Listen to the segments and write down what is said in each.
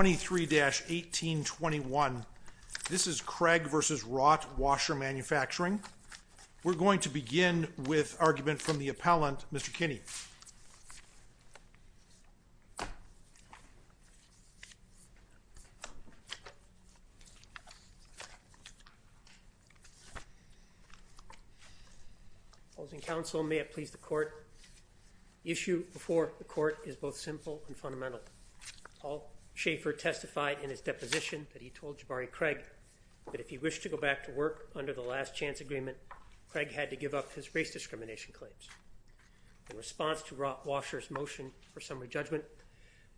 23-1821. This is Craig v. Wrought Washer Manufacturing. We're going to begin with argument from the appellant, Mr. Kinney. Opposing counsel, may it please the court. The issue before the court is both simple and fundamental. All Schaefer testified in his deposition that he told Jebari Craig that if he wished to go back to work under the last chance agreement, Craig had to give up his race discrimination claims. In response to Wrought Washer's motion for summary judgment,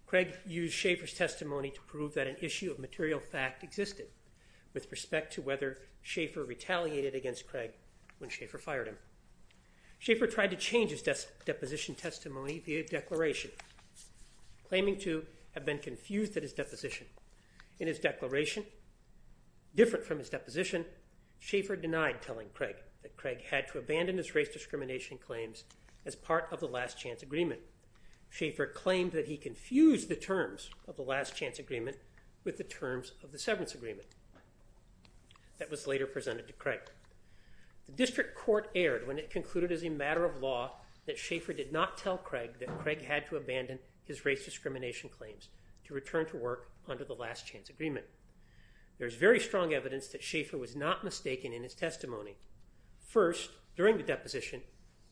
Craig used Schaefer's testimony to prove that an issue of material fact existed with respect to whether Schaefer retaliated against Craig when Schaefer fired him. Schaefer tried to to have been confused at his deposition. In his declaration, different from his deposition, Schaefer denied telling Craig that Craig had to abandon his race discrimination claims as part of the last chance agreement. Schaefer claimed that he confused the terms of the last chance agreement with the terms of the severance agreement that was later presented to Craig. The district court erred when it concluded as a matter of law that Schaefer did not tell Craig that Craig had to abandon his race discrimination claims to return to work under the last chance agreement. There is very strong evidence that Schaefer was not mistaken in his testimony. First, during the deposition,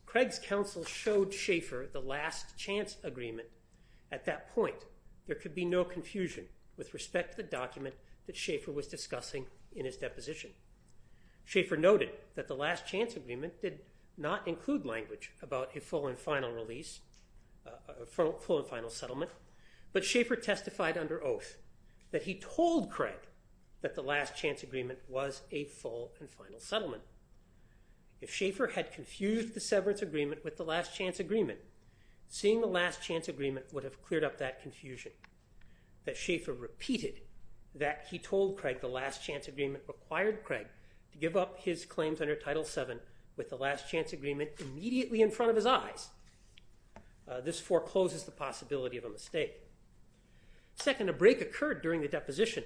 Craig's counsel showed Schaefer the last chance agreement. At that point, there could be no confusion with respect to the document that Schaefer was discussing in his deposition. Schaefer noted that the last chance agreement was a full and final settlement, but Schaefer testified under oath that he told Craig that the last chance agreement was a full and final settlement. If Schaefer had confused the severance agreement with the last chance agreement, seeing the last chance agreement would have cleared up that confusion. That Schaefer repeated that he told Craig the last chance agreement required Craig to give up his claims under Title VII with the last chance agreement immediately in front of his eyes. This forecloses the possibility of a mistake. Second, a break occurred during the deposition,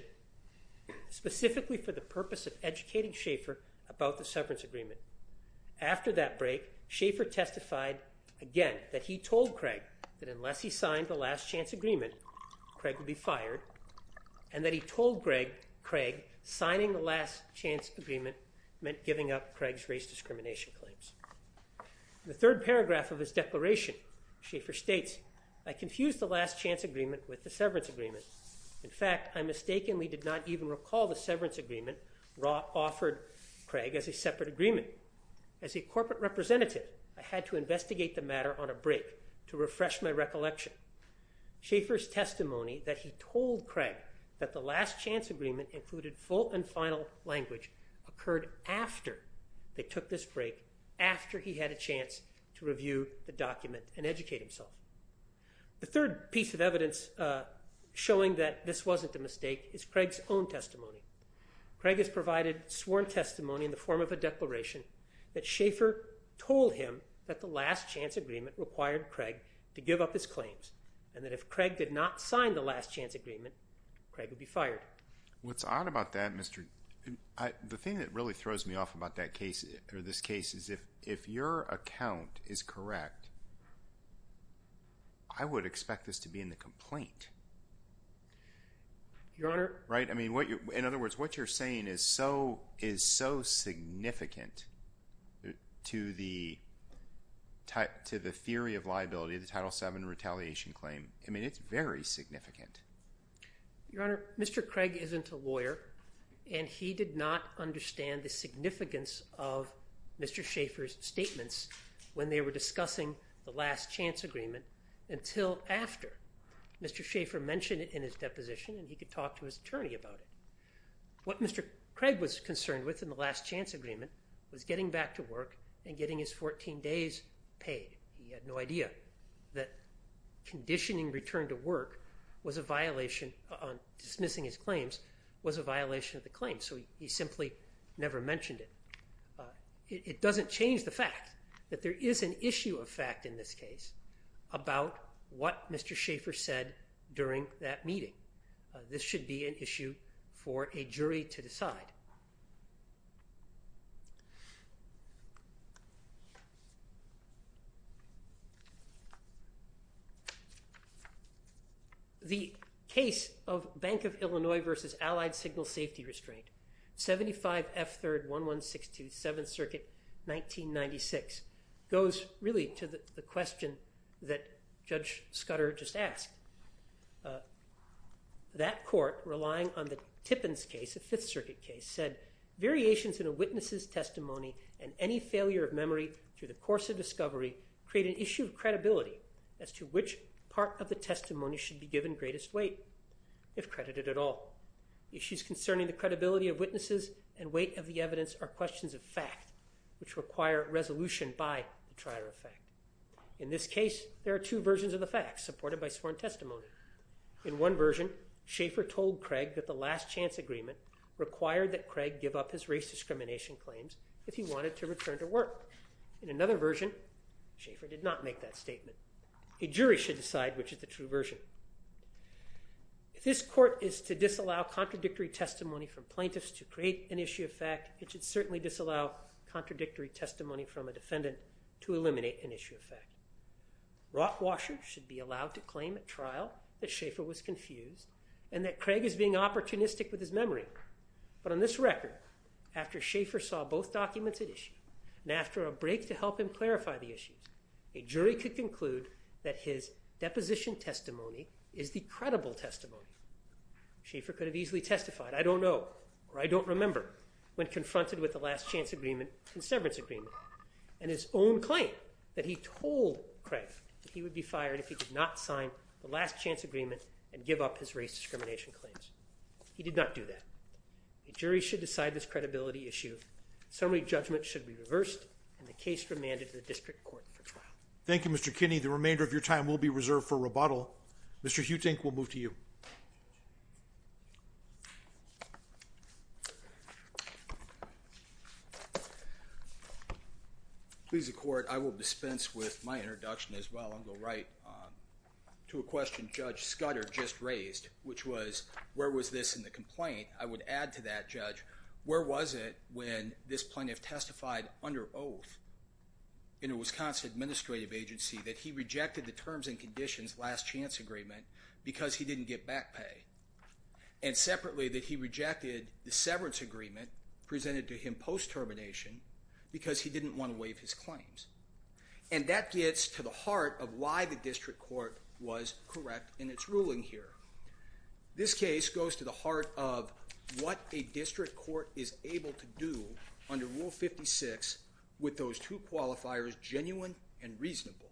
specifically for the purpose of educating Schaefer about the severance agreement. After that break, Schaefer testified again that he told Craig that unless he signed the last chance agreement, Craig would be fired, and that he told Craig signing the last chance agreement meant giving up Craig's race discrimination claims. The third paragraph of his declaration, Schaefer states, I confused the last chance agreement with the severance agreement. In fact, I mistakenly did not even recall the severance agreement offered Craig as a separate agreement. As a corporate representative, I had to investigate the matter on a break to refresh my recollection. Schaefer's testimony that he told Craig that the last chance agreement included full and They took this break after he had a chance to review the document and educate himself. The third piece of evidence showing that this wasn't a mistake is Craig's own testimony. Craig has provided sworn testimony in the form of a declaration that Schaefer told him that the last chance agreement required Craig to give up his claims, and that if Craig did not sign the last chance agreement, Craig would be fired. What's odd about that, Mr. The thing that really throws me off about that case or this case is if your account is correct, I would expect this to be in the complaint. Your Honor. Right? I mean, in other words, what you're saying is so significant to the theory of liability of the Title VII retaliation claim. I mean, it's very significant. Your Honor, Mr. Craig isn't a lawyer, and he did not understand the significance of Mr. Schaefer's statements when they were discussing the last chance agreement until after Mr. Schaefer mentioned it in his deposition, and he could talk to his attorney about it. What Mr. Craig was concerned with in the last chance agreement was getting back to work and getting his 14 days paid. He had no idea that conditioning return to work was a violation on dismissing his claims was a violation of the claim, so he simply never mentioned it. It doesn't change the fact that there is an issue of fact in this case about what Mr. Schaefer said during that meeting. This should be an issue for a jury to decide. The case of Bank of Illinois v. Allied Signal Safety Restraint, 75 F. 3rd, 1162, 7th Circuit, 1996, goes really to the question that Judge Scudder just asked. That court, relying on variations in a witness's testimony and any failure of memory through the course of discovery create an issue of credibility as to which part of the testimony should be given greatest weight, if credited at all. Issues concerning the credibility of witnesses and weight of the evidence are questions of fact, which require resolution by the trier of fact. In this case, there are two versions of the facts supported by sworn testimony. In one version, Schaefer told Craig that the last chance agreement required that Craig give up his race discrimination claims if he wanted to return to work. In another version, Schaefer did not make that statement. A jury should decide which is the true version. If this court is to disallow contradictory testimony from plaintiffs to create an issue of fact, it should certainly disallow contradictory testimony from a defendant to eliminate an issue of fact. Rottwasher should be allowed to claim at trial that Schaefer was confused and that Craig is being opportunistic with his memory. But on this record, after Schaefer saw both documents at issue and after a break to help him clarify the issues, a jury could conclude that his deposition testimony is the credible testimony. Schaefer could have easily testified, I don't know or I don't remember, when confronted with the last chance agreement and severance agreement. And his own claim that he told Craig that he would be fired if he did not sign the last chance agreement and give up his race discrimination claims. He did not do that. A jury should decide this credibility issue. Summary judgment should be reversed and the case remanded to the district court for trial. Thank you, Mr. Kinney. The remainder of your time will be the court. I will dispense with my introduction as well and go right to a question Judge Scudder just raised, which was, where was this in the complaint? I would add to that, Judge, where was it when this plaintiff testified under oath in a Wisconsin administrative agency that he rejected the terms and conditions last chance agreement because he didn't get back pay? And separately, that he rejected the severance agreement presented to him post his claims. And that gets to the heart of why the district court was correct in its ruling here. This case goes to the heart of what a district court is able to do under Rule 56 with those two qualifiers, genuine and reasonable.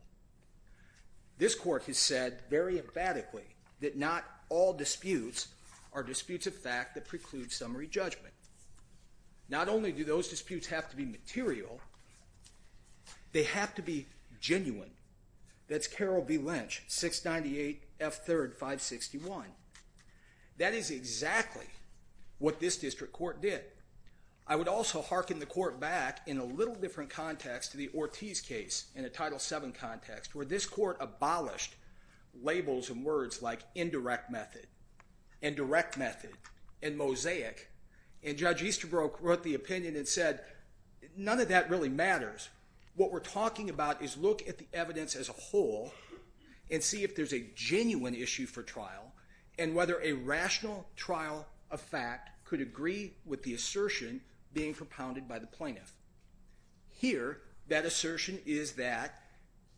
This court has said very emphatically that not all disputes are disputes of fact that preclude summary judgment. Not only do they have to be genuine, that's Carol B. Lynch, 698 F3rd 561. That is exactly what this district court did. I would also hearken the court back in a little different context to the Ortiz case in a Title VII context where this court abolished labels and words like indirect method, indirect method, and mosaic. And Judge Easterbrook wrote the opinion and said, none of that really matters. What we're talking about is look at the evidence as a whole and see if there's a genuine issue for trial and whether a rational trial of fact could agree with the assertion being propounded by the plaintiff. Here, that assertion is that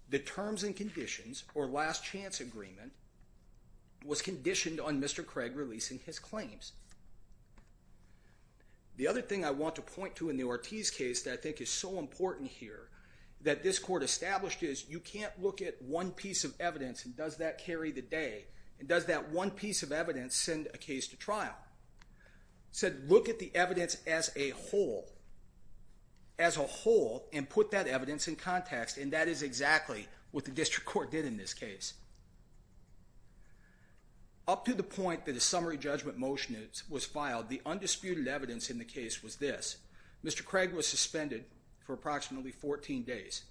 the terms and conditions or last chance agreement was conditioned on Mr. Craig releasing his case. This court established that you can't look at one piece of evidence and does that carry the day and does that one piece of evidence send a case to trial? It said look at the evidence as a whole and put that evidence in context and that is exactly what the district court did in this case. Up to the point that a summary judgment motion was filed, the undisputed evidence in the case was this. Mr. Craig was suspended for approximately 14 days.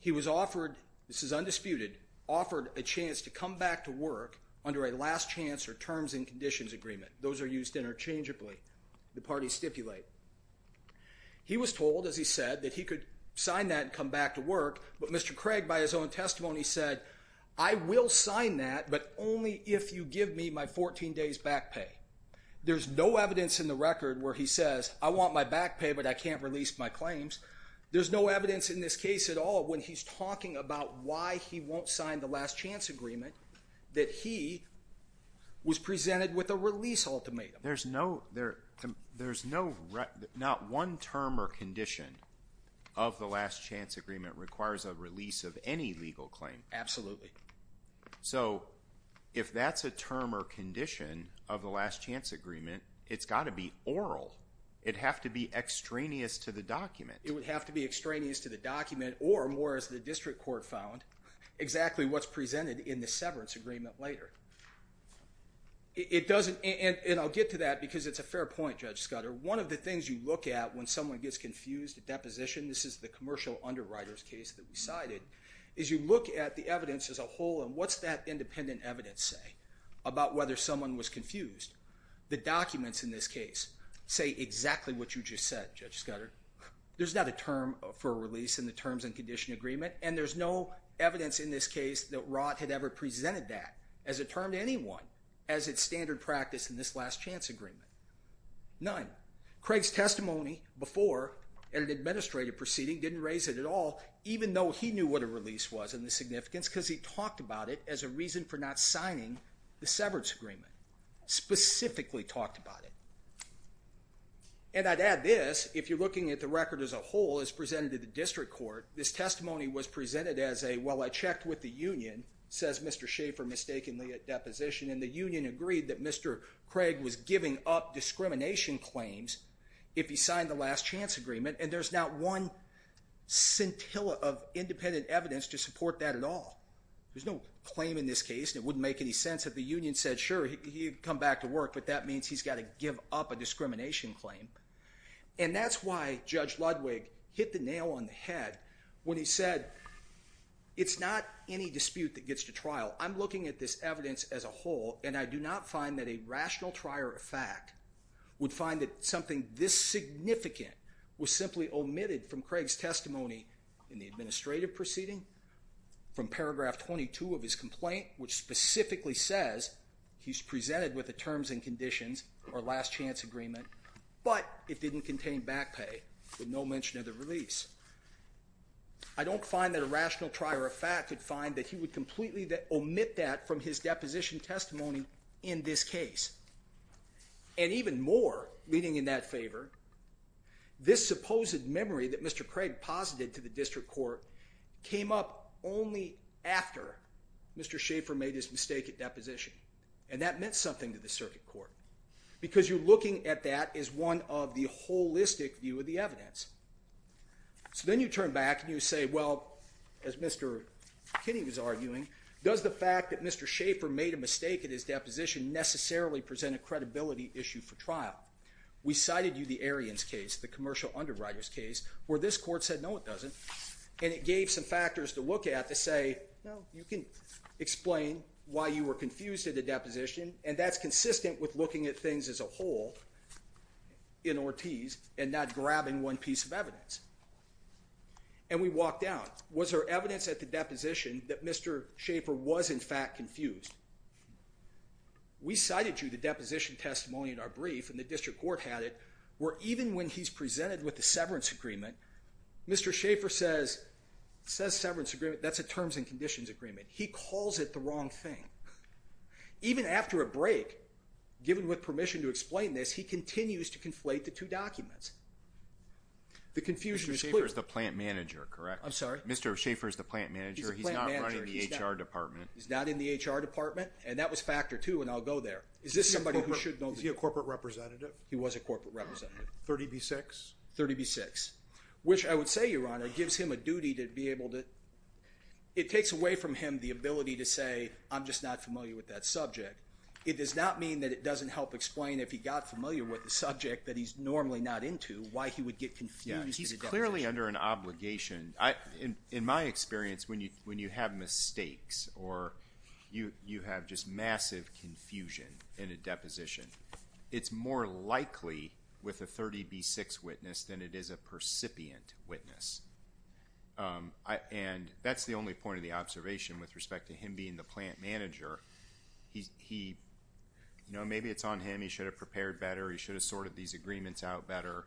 He was offered, this is undisputed, offered a chance to come back to work under a last chance or terms and conditions agreement. Those are used interchangeably, the parties stipulate. He was told, as he said, that he could sign that and come back to work, but Mr. Craig by his own testimony said, I will sign that but only if you give me my 14 days back pay. There's no evidence in the record where he says, I want my back pay but I can't release my claims. There's no evidence in this case at all when he's talking about why he won't sign the last chance agreement that he was presented with a release ultimatum. Not one term or condition of the last chance agreement requires a release of any legal claim. Absolutely. So if that's a term or condition of the last chance agreement, it's got to be oral. It would have to be extraneous to the document. It would have to be extraneous to the document or more as the district court found, exactly what's presented in the severance agreement later. It doesn't, and I'll get to that because it's a fair point Judge Scudder. One of the things you look at when someone gets confused at deposition, this is the commercial underwriters case that we cited, is you look at the evidence as a whole and what's that independent evidence say about whether someone was confused. The documents in this case say exactly what you just said, Judge Scudder. There's not a term for a release in the terms and condition agreement and there's no evidence in this case that Rot had ever presented that as a term to anyone as its standard practice in this last chance agreement. None. Craig's proceeding didn't raise it at all even though he knew what a release was and the significance because he talked about it as a reason for not signing the severance agreement. Specifically talked about it. And I'd add this, if you're looking at the record as a whole as presented to the district court, this testimony was presented as a, well I checked with the union, says Mr. Schaefer mistakenly at deposition and the union agreed that Mr. Craig was giving up discrimination claims if he signed the last chance agreement and there's not one scintilla of independent evidence to support that at all. There's no claim in this case and it wouldn't make any sense if the union said sure he'd come back to work but that means he's got to give up a discrimination claim. And that's why Judge Ludwig hit the nail on the head when he said it's not any dispute that gets to trial. I'm looking at this evidence as a whole and I do not find that a rational trier of fact would find that something this significant was simply omitted from Craig's testimony in the administrative proceeding from paragraph 22 of his complaint which specifically says he's presented with the terms and conditions or last chance agreement but it didn't contain back pay with no mention of the release. I don't find that a rational trier of fact would find that he would completely omit that from his deposition testimony in this case. And even more, leading in that favor, this supposed memory that Mr. Craig posited to the district court came up only after Mr. Schaefer made his mistake at deposition and that meant something to the circuit court because you're looking at that as one of the holistic view of the evidence. So then you turn back and you say, well, as Mr. Kinney was arguing, does the fact that Mr. Schaefer made a mistake at his deposition necessarily present a credibility issue for trial? We cited you the Ariens case, the commercial underwriter's case, where this court said no it doesn't and it gave some factors to look at to say, well, you can explain why you were confused at the deposition and that's consistent with looking at things as a whole in Ortiz and not grabbing one piece of evidence. And we walked out. Was there evidence at the deposition that Mr. Schaefer was in fact confused? We cited you the deposition testimony in our brief and the district court had it where even when he's presented with the severance agreement, Mr. Schaefer says severance agreement, that's a terms and conditions agreement. He said after a break, given with permission to explain this, he continues to conflate the two documents. The confusion is clear. Mr. Schaefer is the plant manager, correct? I'm sorry? Mr. Schaefer is the plant manager. He's not running the HR department. He's not in the HR department and that was factor two and I'll go there. Is this somebody who should know this? Is he a corporate representative? He was a corporate representative. 30B6? 30B6, which I would say, Your Honor, gives him a duty to be able to, it takes away from him the ability to say, I'm just not familiar with that subject. It does not mean that it doesn't help explain if he got familiar with the subject that he's normally not into, why he would get confused at a deposition. Yeah, he's clearly under an obligation. In my experience, when you have mistakes or you have just massive confusion in a deposition, it's more likely with a 30B6 witness than it is a percipient witness. And that's the only point of the observation with respect to him being the plant manager. Maybe it's on him, he should have prepared better, he should have sorted these agreements out better,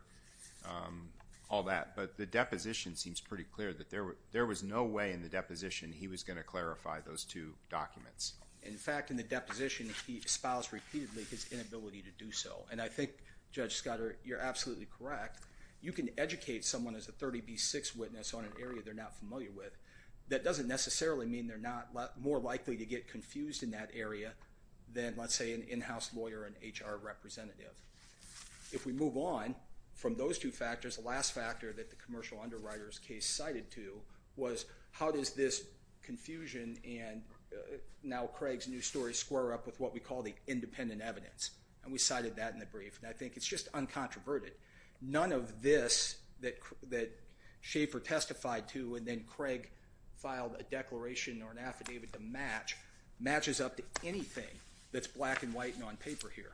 all that. But the deposition seems pretty clear that there was no way in the deposition he was going to clarify those two documents. In fact, in the deposition, he espoused repeatedly his inability to do so. And I think, Judge Scudder, you're absolutely correct. You can educate someone as a 30B6 witness on an area they're not familiar with. That doesn't necessarily mean they're not more likely to get confused in that area than, let's say, an in-house lawyer or an HR representative. If we move on from those two factors, the last factor that the commercial underwriter's case cited to was, how does this confusion and now Craig's new story square up with what we call the independent evidence? And we cited that in the brief. And I think it's just uncontroverted. None of this that Schaefer testified to and then Craig filed a declaration or an affidavit to match, matches up to anything that's black and white and on paper here.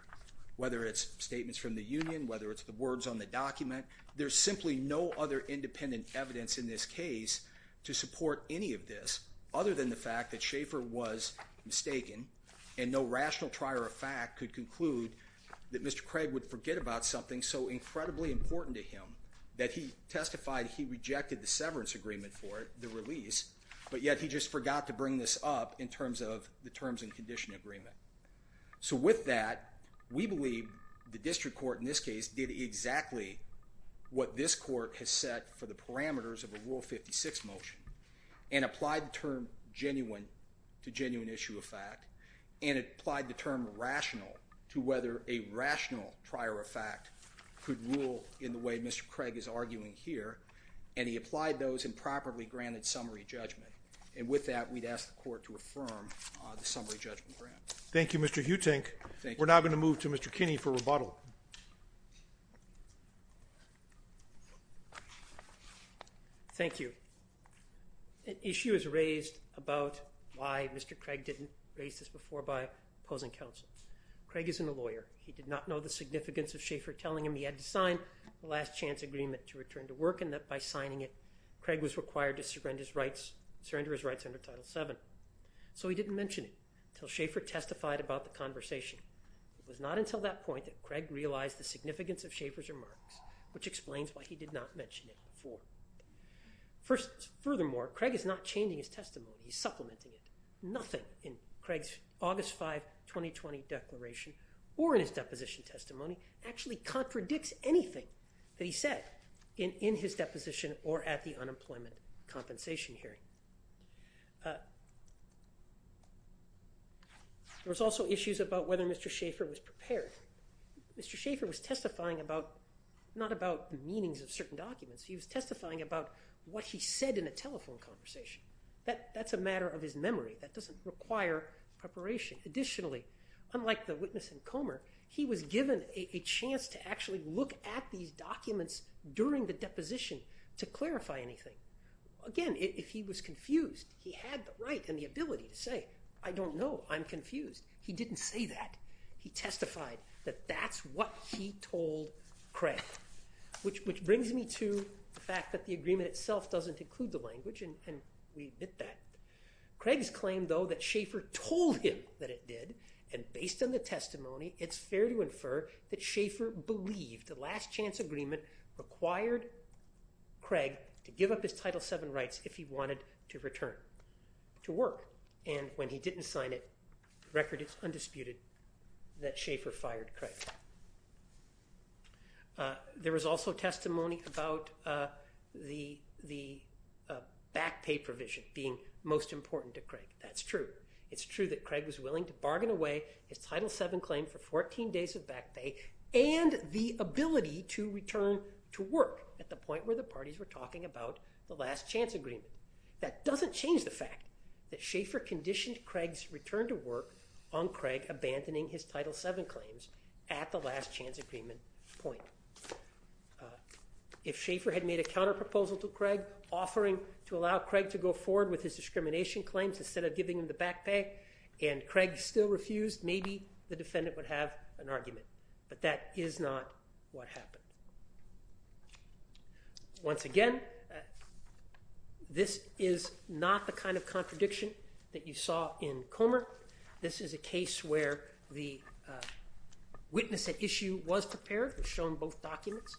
Whether it's statements from the union, whether it's the words on the document, there's simply no other independent evidence in this case to support any of this other than the fact that Schaefer was mistaken and no rational trier of fact could conclude that Mr. Craig would forget about something so incredibly important to him that he testified he rejected the severance agreement for it, the release, but yet he just forgot to bring this up in terms of the terms and condition agreement. So with that, we believe the district court in this case did exactly what this court has set for the parameters of a Rule 56 motion and applied the term genuine to genuine issue of fact and applied the term rational to whether a rational trier of fact could rule in the way Mr. Craig is arguing here and he applied those and properly granted summary judgment. And with that, we'd ask the court to affirm the summary judgment grant. Thank you, Mr. Huting. We're now going to move to Mr. Kinney for rebuttal. Thank you. An issue is raised about why Mr. Craig didn't raise this before by opposing counsel. Craig isn't a lawyer. He did not know the significance of Schaefer telling him he had to sign the last chance agreement to return to work and that by signing it, Craig was required to surrender his rights under Title VII. So he didn't mention it when Schaefer testified about the conversation. It was not until that point that Craig realized the significance of Schaefer's remarks, which explains why he did not mention it before. Furthermore, Craig is not changing his testimony. He's supplementing it. Nothing in Craig's August 5, 2020 declaration or in his deposition testimony actually contradicts anything that There was also issues about whether Mr. Schaefer was prepared. Mr. Schaefer was testifying about, not about the meanings of certain documents, he was testifying about what he said in a telephone conversation. That's a matter of his memory. That doesn't require preparation. Additionally, unlike the witness in Comer, he was given a chance to actually look at these documents during the deposition to clarify anything. Again, if he was confused, he had the right and the ability to say, I don't know, I'm confused. He didn't say that. He testified that that's what he told Craig, which brings me to the fact that the agreement itself doesn't include the language, and we admit that. Craig's claim, though, that Schaefer told him that it did, and based on the testimony, it's fair to infer that Schaefer believed the last chance agreement required Craig to give up his Title VII rights if he wanted to return to work, and when he didn't sign it, the record is undisputed that Schaefer fired Craig. There was also testimony about the back pay provision being most important to Craig. That's true. It's true that Craig was willing to bargain away his Title VII claim for 14 days of back pay and the ability to return to work at the point where the parties were talking about the last chance agreement. That doesn't change the fact that Schaefer conditioned Craig's return to work on Craig abandoning his Title VII claims at the last chance agreement point. If Schaefer had made a counterproposal to Craig offering to allow Craig to go forward with his discrimination claims instead of giving him the back pay and Craig still refused, maybe the defendant would have an argument, but that is not what happened. Once again, this is not the kind of contradiction that you saw in Comer. This is a case where the witness at issue was prepared, shown both documents,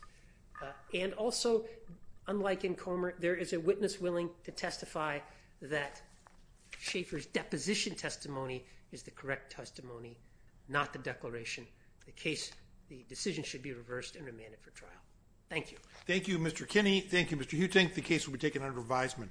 and also, unlike in Schaefer's deposition testimony is the correct testimony, not the declaration. The decision should be reversed and remanded for trial. Thank you. Thank you, Mr. Kinney. Thank you, Mr. Huting. The case will be taken under revisement.